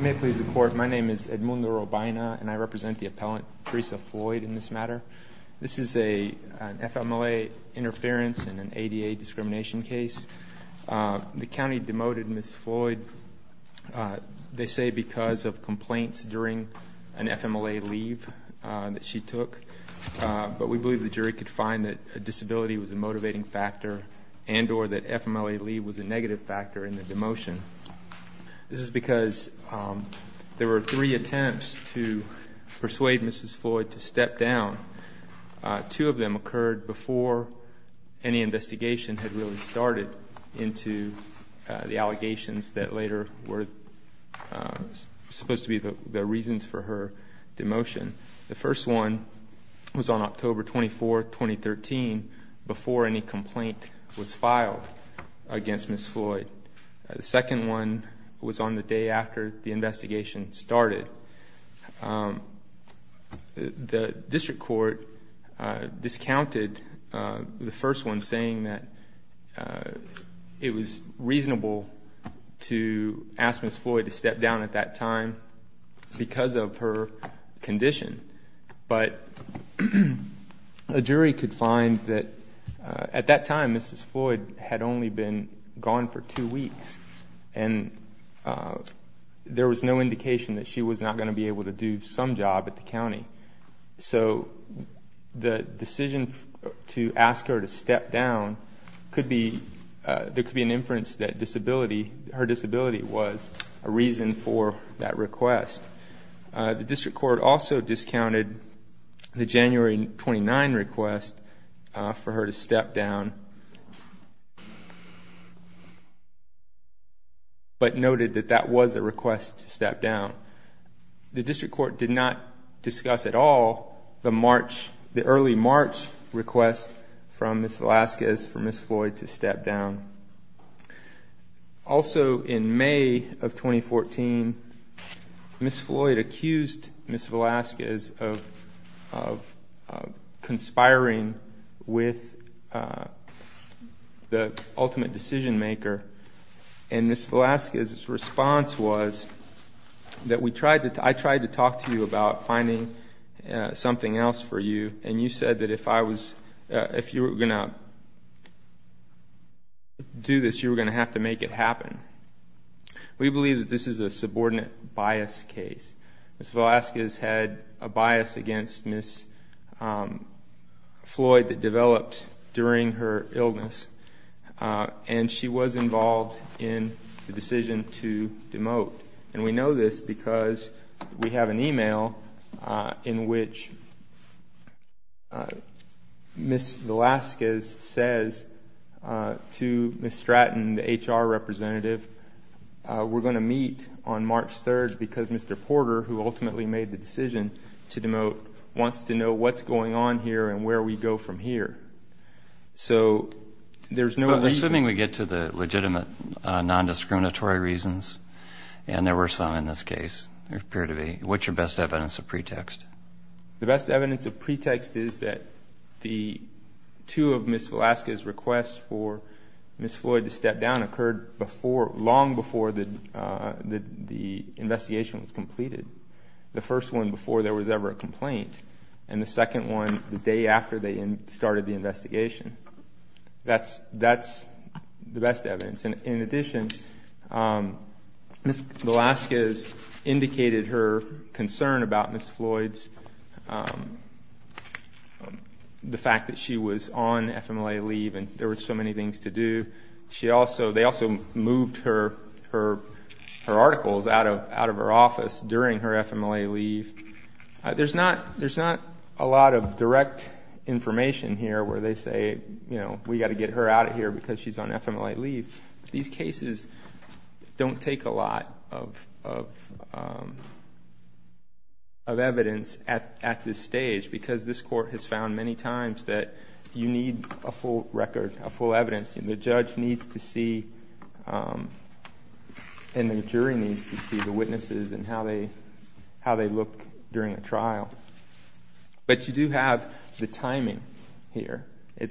May it please the court, my name is Edmundo Robina and I represent the appellant Tresa Floyd in this matter. This is a FMLA interference in an ADA discrimination case. The county demoted Ms. Floyd, they say because of complaints during an FMLA leave that she took, but we believe the jury could find that a disability was a motivating factor and or that FMLA leave was a negative factor in the demotion. This is because there were three attempts to persuade Mrs. Floyd to step down. Two of them occurred before any investigation had really started into the allegations that later were supposed to be the reasons for her demotion. The first one was on October 24, 2013 before any complaint was filed against Ms. Floyd. The second one was on the day after the investigation started. The district court discounted the first one saying that it was reasonable to ask Ms. Floyd to step down at that time because of her condition, but a jury could find that at that time Mrs. Floyd had only been gone for two weeks and there was no indication that she was not going to be able to do some job at the county. So the decision to ask her to step down could be, there could be an inference that disability, her disability was a reason for that request. The district court did not discuss at all the early March request from Ms. Velasquez for Ms. Floyd to step down. Also in May of 2014, Ms. Floyd accused Ms. Velasquez of conspiring with the ultimate decision-maker and Ms. Velasquez's response was that we tried to, I tried to talk to you about finding something else for you and you said that if I was, if you were going to do this you were going to have to make it happen. We believe that this is a subordinate bias case. Ms. Velasquez had a Floyd that developed during her illness and she was involved in the decision to demote and we know this because we have an email in which Ms. Velasquez says to Ms. Stratton, the HR representative, we're going to meet on March 3rd because Mr. Floyd is going to step down. So what's going on here and where we go from here? So there's no reason. Assuming we get to the legitimate non-discriminatory reasons and there were some in this case, there appear to be, what's your best evidence of pretext? The best evidence of pretext is that the two of Ms. Velasquez's requests for Ms. Floyd to step down occurred before, long before the investigation was completed. The first one before there was ever a complaint and the second one the day after they started the investigation. That's the best evidence. In addition, Ms. Velasquez indicated her concern about Ms. Floyd's, the fact that she was on FMLA leave and there were so many things to do. They also moved her articles out of her office during her FMLA leave. There's not a lot of direct information here where they say, you know, we've got to get her out of here because she's on FMLA leave. These cases don't take a lot of evidence at this stage because this court has found many times that you need a full record, a full evidence. The judge needs to see and the jury needs to see the witnesses and how they look during a trial. But you do have the timing here.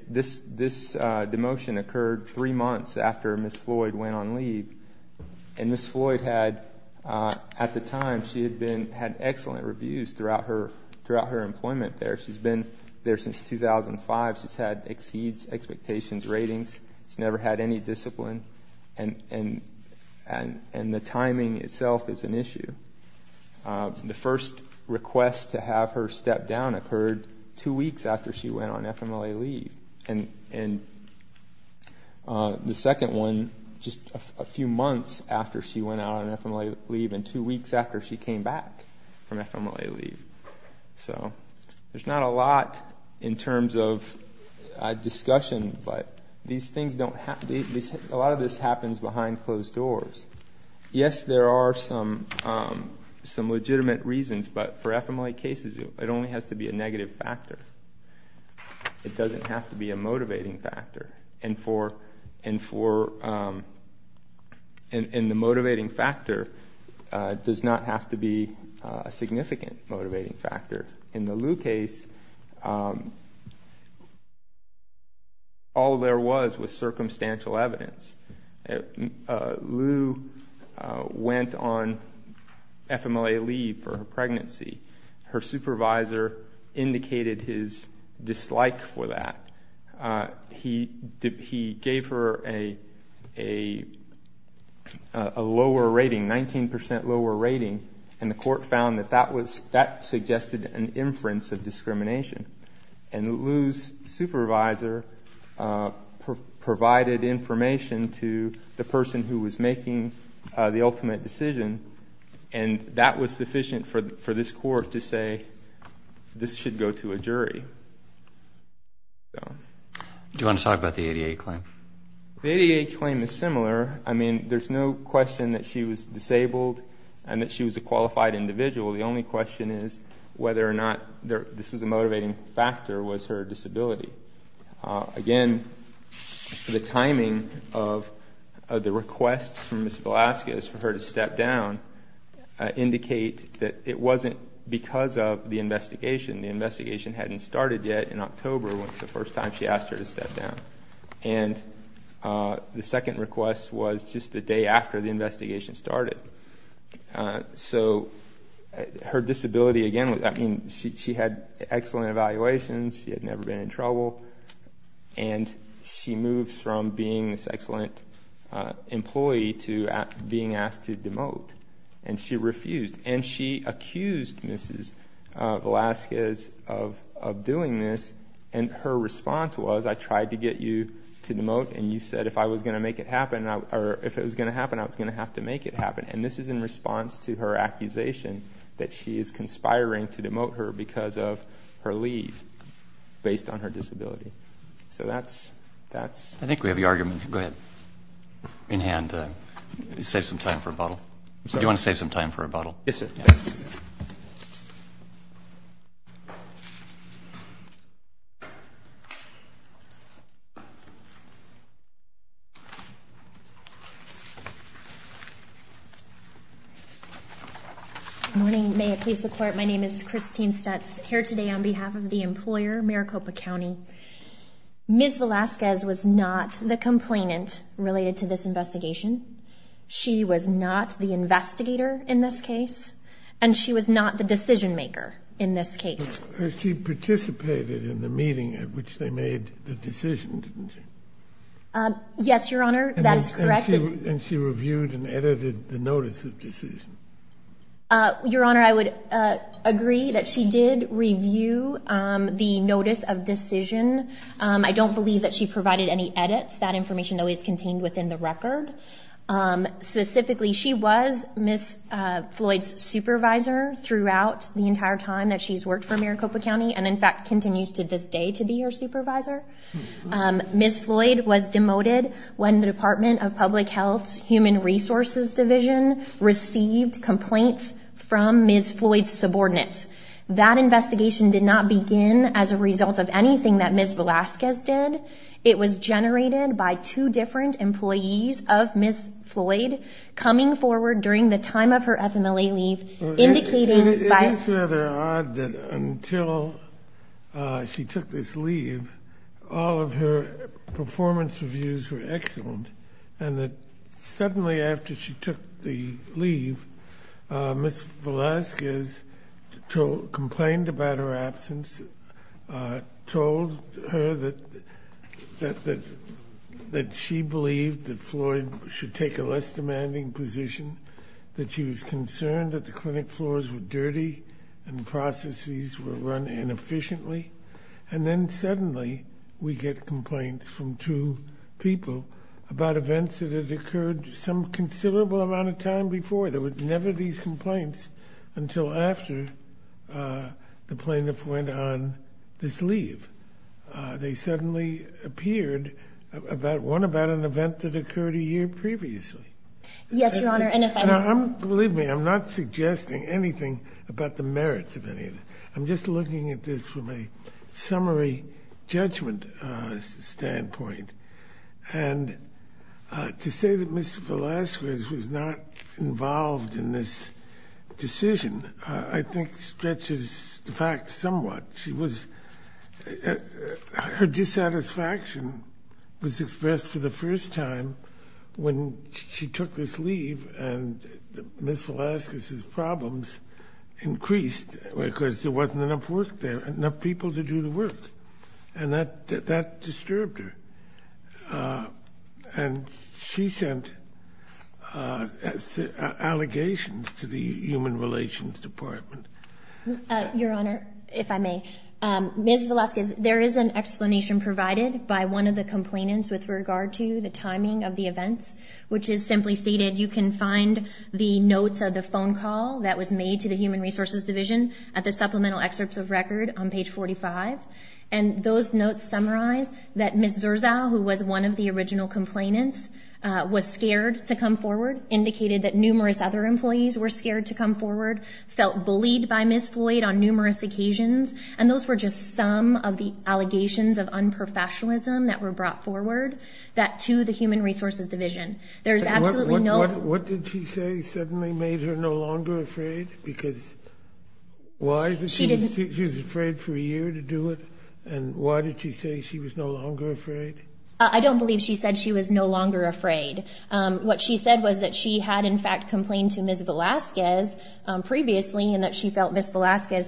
This demotion occurred three months after Ms. Floyd went on leave and Ms. Floyd had, at the time, she had excellent reviews throughout her employment there. She's been there since 2005. She's had exceeds expectations ratings. She's never had any discipline and the timing itself is an issue. The first request to have her step down occurred two weeks after she went on FMLA leave and the second one just a few months after she went out on FMLA leave and two weeks after she came back from FMLA leave. So there's not a lot in terms of discussion, but a lot of this happens behind closed doors. Yes, there are some legitimate reasons, but for FMLA cases, it only has to be a negative factor. It doesn't have to be a motivating factor. And the motivating factor does not have to be a significant motivating factor. In the Lou case, all there was was circumstantial evidence. Lou went on FMLA leave for her pregnancy. Her supervisor indicated his dislike for that. He gave her a lower rating, 19% lower rating, and the court found that that suggested an inference of discrimination. And Lou's supervisor provided information to the person who was making the ultimate decision and that was sufficient for this court to say, this should go to a jury. Do you want to talk about the ADA claim? The ADA claim is similar. I mean, there's no question that she was disabled and that she was a qualified individual. The only question is whether or not this was a motivating factor was her disability. Again, the timing of the requests from Ms. Velasquez for her to step down indicate that it wasn't because of the investigation. The investigation hadn't started yet in October when it was the first time she asked her to step down. And the second request was just the day after the investigation started. So her disability, again, I mean, she had excellent evaluations, she had never been in trouble, and she moved from being this excellent employee to being asked to demote. And she refused. And she accused Ms. Velasquez of doing this. And her response was, I tried to get you to demote and you said if I was going to make it happen, or if it was going to happen, I was going to have to make it happen. And this is in response to her accusation that she is conspiring to demote her because of her leave based on her disability. So that's, that's. I think we have your argument. Go ahead. In hand, save some time for a bottle. Do you want to save some time for a bottle? Yes, sir. Good morning. May it please the court. My name is Christine Stutz here today on behalf of the employer, Maricopa County. Ms. Velasquez was not the complainant related to this investigation. She was not the investigator in this case, and she was not the decision-maker in this case. She participated in the meeting at which they made the decision, didn't she? Yes, Your Honor. That is correct. And she reviewed and edited the notice of decision. Your Honor, I would agree that she did review the notice of decision. I don't believe that she provided any edits. That information always contained within the record. Specifically, she was Ms. Floyd's supervisor throughout the entire time that she's worked for Maricopa County. And in fact, continues to this day to be her supervisor. Ms. Floyd was demoted when the Department of Public Health's Human Resources Division received complaints from Ms. Floyd's subordinates. That investigation did not begin as a result of anything that Ms. Velasquez did. It was generated by two different employees of Ms. Floyd coming forward during the time of her FMLA leave, indicating by... It is rather odd that until she took this leave, all of her performance reviews were excellent, and that suddenly after she took the leave, Ms. Floyd, that she believed that Floyd should take a less demanding position, that she was concerned that the clinic floors were dirty and the processes were run inefficiently. And then suddenly we get complaints from two people about events that had occurred some considerable amount of time before. There was never these complaints until after the plaintiff went on this leave. They suddenly appeared about one, about an event that occurred a year previously. Yes, Your Honor. And if I'm, believe me, I'm not suggesting anything about the merits of any of this. I'm just looking at this from a summary judgment standpoint. And to say that Ms. Velasquez was not involved in this decision, I think stretches the fact somewhat. She was, her dissatisfaction was expressed for the first time when she took this leave and Ms. Velasquez's problems increased because there wasn't enough work there, enough people to do the work. And that disturbed her. And she sent allegations to the human relations department. Your Honor, if I may, Ms. Velasquez, there is an explanation provided by one of the complainants with regard to the timing of the events, which is simply stated. You can find the notes of the phone call that was made to the human resources division at the supplemental excerpts of record on page 45. And those notes summarize that Ms. Zurza, who was one of the original complainants, was scared to come forward, indicated that by Ms. Floyd on numerous occasions. And those were just some of the allegations of unprofessionalism that were brought forward that to the human resources division. There's absolutely no. What did she say suddenly made her no longer afraid? Because why? She was afraid for a year to do it. And why did she say she was no longer afraid? I don't believe she said she was no longer afraid. What she said was that she had, in fact, complained to Ms. Velasquez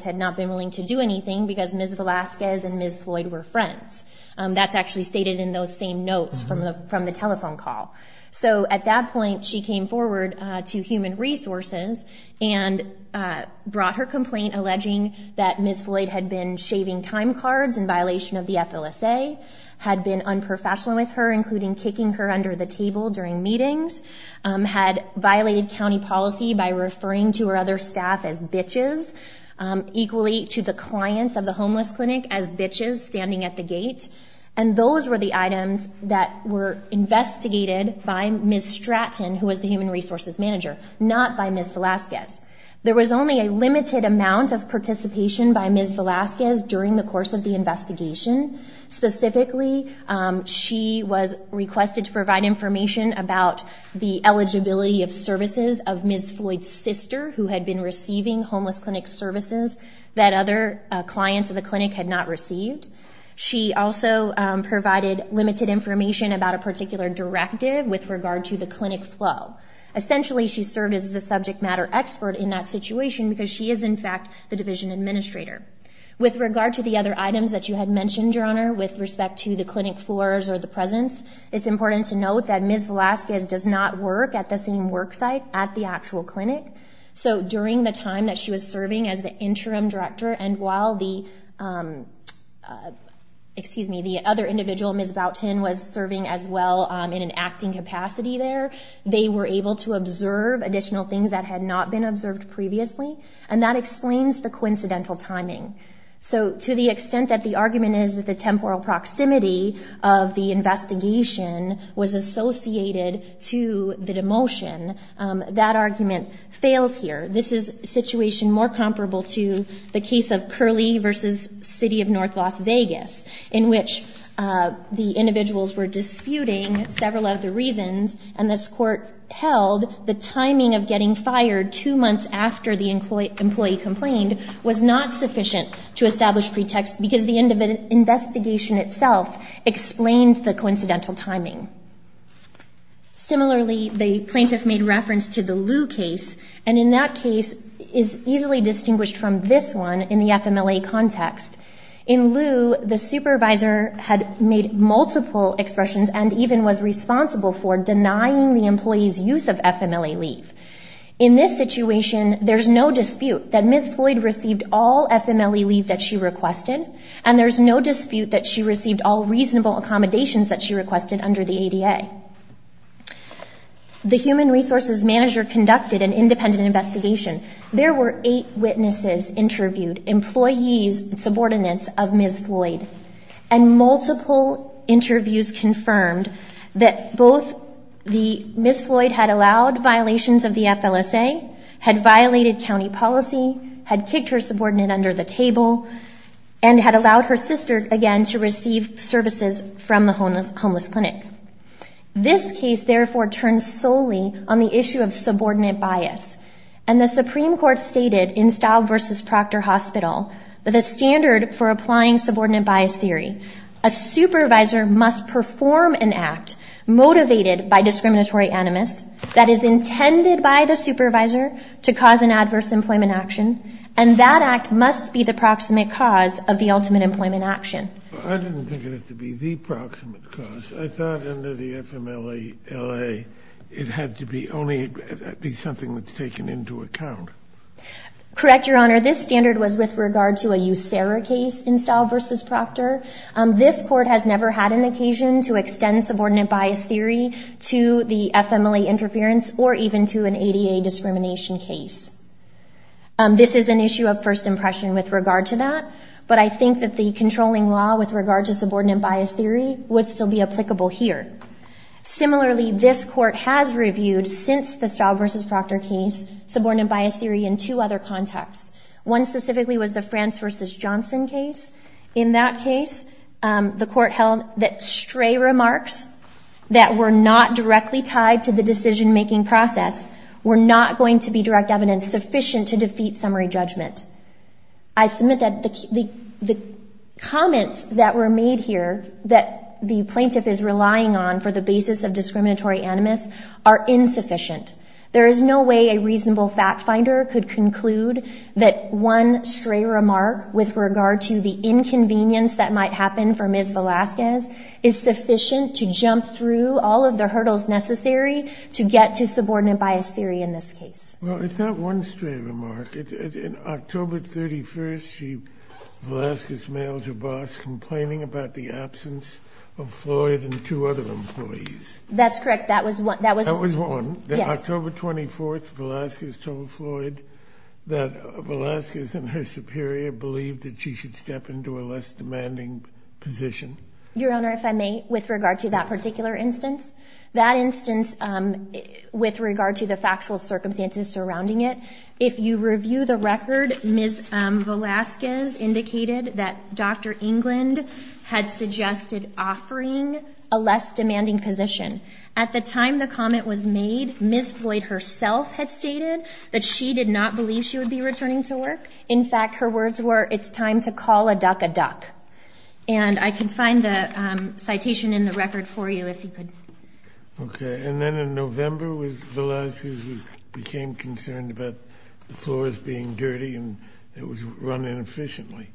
had not been willing to do anything because Ms. Velasquez and Ms. Floyd were friends. That's actually stated in those same notes from the from the telephone call. So at that point, she came forward to human resources and brought her complaint alleging that Ms. Floyd had been shaving time cards in violation of the FLSA, had been unprofessional with her, including kicking her under the table during meetings, had violated county policy by referring to her other staff as bitches, equally to the clients of the homeless clinic as bitches standing at the gate. And those were the items that were investigated by Ms. Stratton, who was the human resources manager, not by Ms. Velasquez. There was only a limited amount of participation by Ms. Velasquez during the course of the investigation. Specifically, she was requested to provide information about the eligibility of services of Ms. Floyd's sister, who had been receiving homeless clinic services that other clients of the clinic had not received. She also provided limited information about a particular directive with regard to the clinic flow. Essentially, she served as the subject matter expert in that situation because she is, in fact, the division administrator. With regard to the other items that you had mentioned, Your Honor, with respect to the clinic floors or the presence, it's important to note that Ms. Velasquez did not serve on the same worksite at the actual clinic. So during the time that she was serving as the interim director, and while the, excuse me, the other individual, Ms. Boutin, was serving as well in an acting capacity there, they were able to observe additional things that had not been observed previously. And that explains the coincidental timing. So to the extent that the argument is that the temporal proximity of the investigation was associated to the demotion, that argument fails here. This is a situation more comparable to the case of Curley versus City of North Las Vegas, in which the individuals were disputing several of the reasons. And this court held the timing of getting fired two months after the employee complained was not sufficient to establish pretext because the investigation itself explained the coincidental timing. Similarly, the plaintiff made reference to the Lew case, and in that case is easily distinguished from this one in the FMLA context. In Lew, the supervisor had made multiple expressions and even was responsible for denying the employee's use of FMLA leave. In this situation, there's no dispute that Ms. Floyd received all FMLA leave that she requested. And there's no dispute that she received all reasonable accommodations that she requested under the ADA. The human resources manager conducted an independent investigation. There were eight witnesses interviewed, employees, subordinates of Ms. Floyd, and multiple interviews confirmed that both the Ms. Floyd had allowed violations of the FLSA, had violated county policy, had kicked her subordinate under the table, and had allowed her sister, again, to receive services from the homeless clinic. This case, therefore, turns solely on the issue of subordinate bias. And the Supreme Court stated in Staub v. Proctor Hospital that the standard for applying subordinate bias theory, a supervisor must perform an act motivated by discriminatory animus that is intended by the supervisor to cause an adverse employment action. And that act must be the proximate cause of the ultimate employment action. I didn't think it had to be the proximate cause. I thought under the FMLA, it had to be only something that's taken into account. Correct, Your Honor. This standard was with regard to a USERRA case in Staub v. Proctor. This court has never had an occasion to extend subordinate bias theory to the FMLA interference or even to an ADA discrimination case. This is an issue of first impression with regard to that, but I think that the controlling law with regard to subordinate bias theory would still be applicable here. Similarly, this court has reviewed, since the Staub v. Proctor case, subordinate bias theory in two other contexts. One specifically was the France v. Johnson case. In that case, the court held that stray remarks that were not directly tied to the decision-making process were not going to be direct evidence sufficient to defeat summary judgment. I submit that the comments that were made here that the plaintiff is relying on for the basis of discriminatory animus are insufficient. There is no way a reasonable fact finder could conclude that one stray remark with regard to the inconvenience that might happen for Ms. Velasquez is sufficient to get to subordinate bias theory in this case. Well, it's not one stray remark. In October 31st, Velasquez mailed her boss complaining about the absence of Floyd and two other employees. That's correct. That was one. October 24th, Velasquez told Floyd that Velasquez and her superior believed that she should step into a less demanding position. Your Honor, if I may, with regard to that particular instance. That instance, with regard to the factual circumstances surrounding it, if you review the record, Ms. Velasquez indicated that Dr. England had suggested offering a less demanding position. At the time the comment was made, Ms. Floyd herself had stated that she did not believe she would be returning to work. In fact, her words were, it's time to call a duck a duck. And I can find the citation in the record for you, if you could. Okay. And then in November, Velasquez became concerned about the floors being dirty and it was run inefficiently.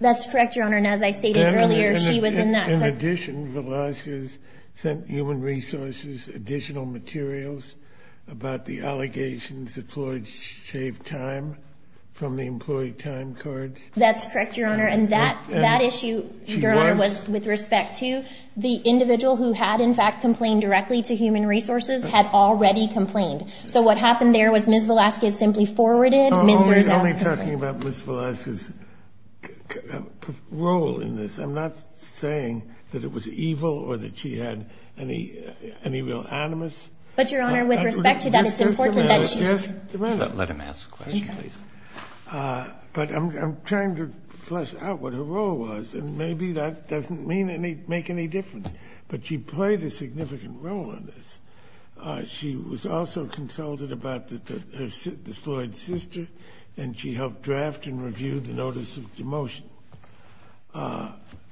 That's correct, Your Honor. And as I stated earlier, she was in that. In addition, Velasquez sent Human Resources additional materials about the allegations that Floyd shaved time from the employee time cards. That's correct, Your Honor. And that issue, Your Honor, was with respect to the individual who had, in fact, complained directly to Human Resources, had already complained. So what happened there was Ms. Velasquez simply forwarded Mr. Zasko's complaint. I'm only talking about Ms. Velasquez's role in this. I'm not saying that it was evil or that she had any real animus. But, Your Honor, with respect to that, it's important that she. Let him ask the question, please. But I'm trying to flesh out what her role was, and maybe that doesn't make any difference. But she played a significant role in this. She was also consulted about the Floyd sister, and she helped draft and review the notice of demotion.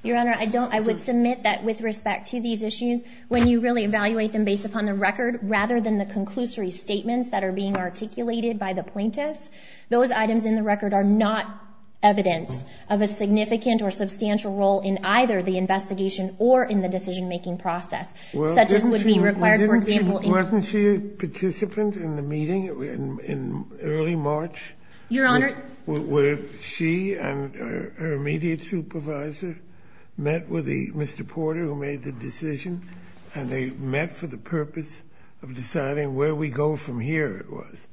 Your Honor, I don't. I would submit that with respect to these issues, when you really evaluate them based upon the record rather than the conclusory statements that are being articulated by the plaintiffs, those items in the record are not evidence of a significant or substantial role in either the investigation or in the decision-making process, such as would be required, for example. Wasn't she a participant in the meeting in early March? Your Honor. Where she and her immediate supervisor met with Mr. Porter, who made the decision, and they met for the purpose of deciding where we go from here. It was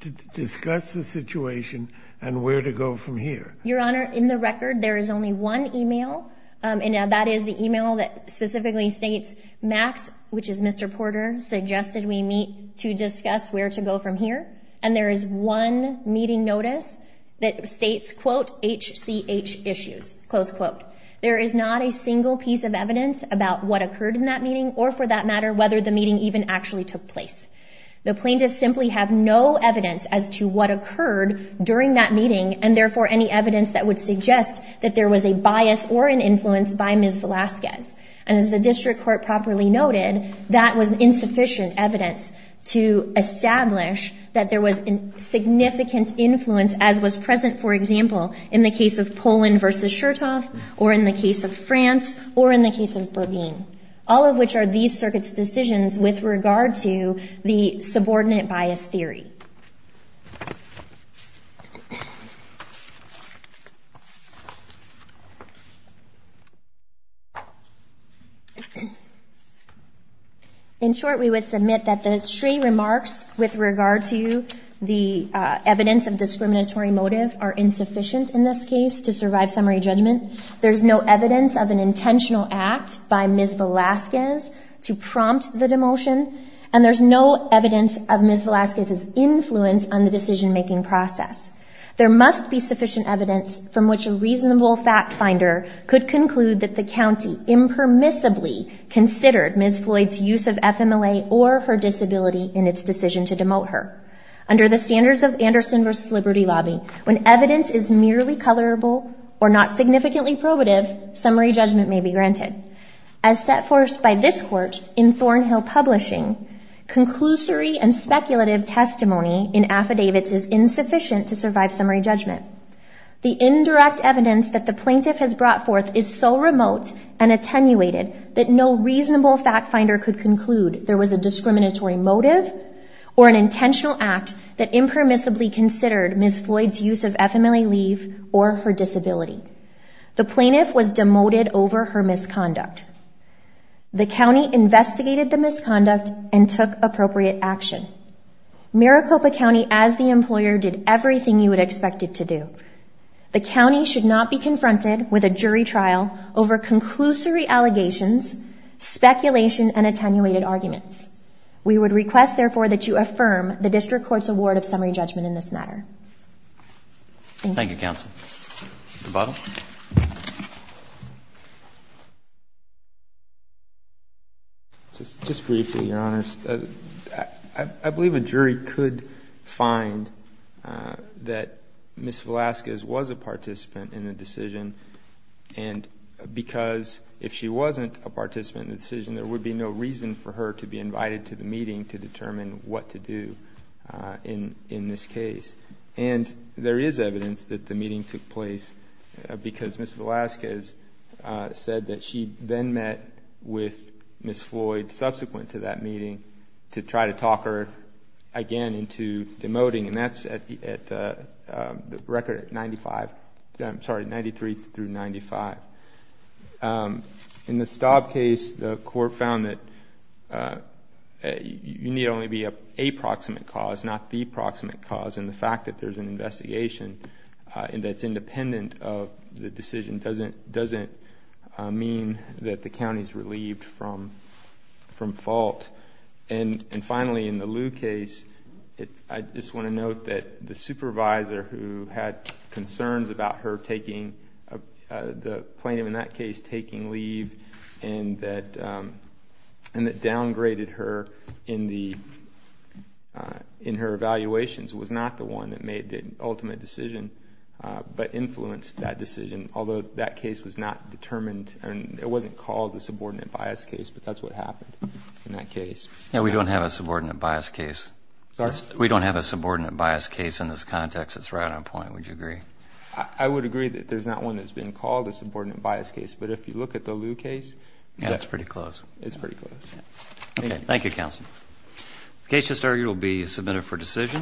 to discuss the situation and where to go from here. Your Honor. In the record, there is only one email, and that is the email that specifically states, Max, which is Mr. Porter, suggested we meet to discuss where to go from here. And there is one meeting notice that states, quote, HCH issues, close quote. There is not a single piece of evidence about what occurred in that meeting or for that matter, whether the meeting even actually took place. The plaintiffs simply have no evidence as to what occurred during that meeting, and therefore any evidence that would suggest that there was a bias or an influence by Ms. Velasquez. And as the district court properly noted, that was insufficient evidence to establish that there was a significant influence as was present, for example, in the case of Poland versus Chertoff, or in the case of France, or in the case of the subordinate bias theory. In short, we would submit that the three remarks with regard to the evidence of discriminatory motive are insufficient in this case to survive summary judgment. There's no evidence of an intentional act by Ms. Velasquez to prompt the demotion. And there's no evidence of Ms. Velasquez's influence on the decision-making process. There must be sufficient evidence from which a reasonable fact finder could conclude that the county impermissibly considered Ms. Floyd's use of FMLA or her disability in its decision to demote her. Under the standards of Anderson versus Liberty Lobby, when evidence is merely As set forth by this court in Thornhill Publishing, conclusory and speculative testimony in affidavits is insufficient to survive summary judgment. The indirect evidence that the plaintiff has brought forth is so remote and attenuated that no reasonable fact finder could conclude there was a discriminatory motive or an intentional act that impermissibly considered Ms. Floyd's use of FMLA leave or her disability. The plaintiff was demoted over her misconduct. The county investigated the misconduct and took appropriate action. Maricopa County, as the employer, did everything you would expect it to do. The county should not be confronted with a jury trial over conclusory allegations, speculation, and attenuated arguments. We would request, therefore, that you affirm the district court's award of summary judgment in this matter. Thank you, counsel. Mr. Butler? Just briefly, Your Honors. I believe a jury could find that Ms. Velasquez was a participant in the decision and because if she wasn't a participant in the decision, there would be no reason for her to be invited to the meeting to determine what to do in this case. And there is evidence that the meeting took place because Ms. Velasquez said that she then met with Ms. Floyd subsequent to that meeting to try to talk her again into demoting, and that's at the record at 95, I'm sorry, 93 through 95. In the Staub case, the court found that you need only be a proximate cause, not the proximate cause, and the fact that there's an investigation that's independent of the decision doesn't mean that the county's relieved from fault. And finally, in the Liu case, I just want to note that the supervisor who had concerns about the plaintiff in that case taking leave and that downgraded her in her evaluations was not the one that made the ultimate decision, but influenced that decision, although that case was not determined, and it wasn't called a subordinate bias case, but that's what happened in that case. We don't have a subordinate bias case. Sorry? We don't have a subordinate bias case in this context. It's right on point. Would you agree? I would agree that there's not one that's been called a subordinate bias case, but if you look at the Liu case, that's pretty close. It's pretty close. Okay. Thank you, Counsel. The case just argued will be submitted for decision.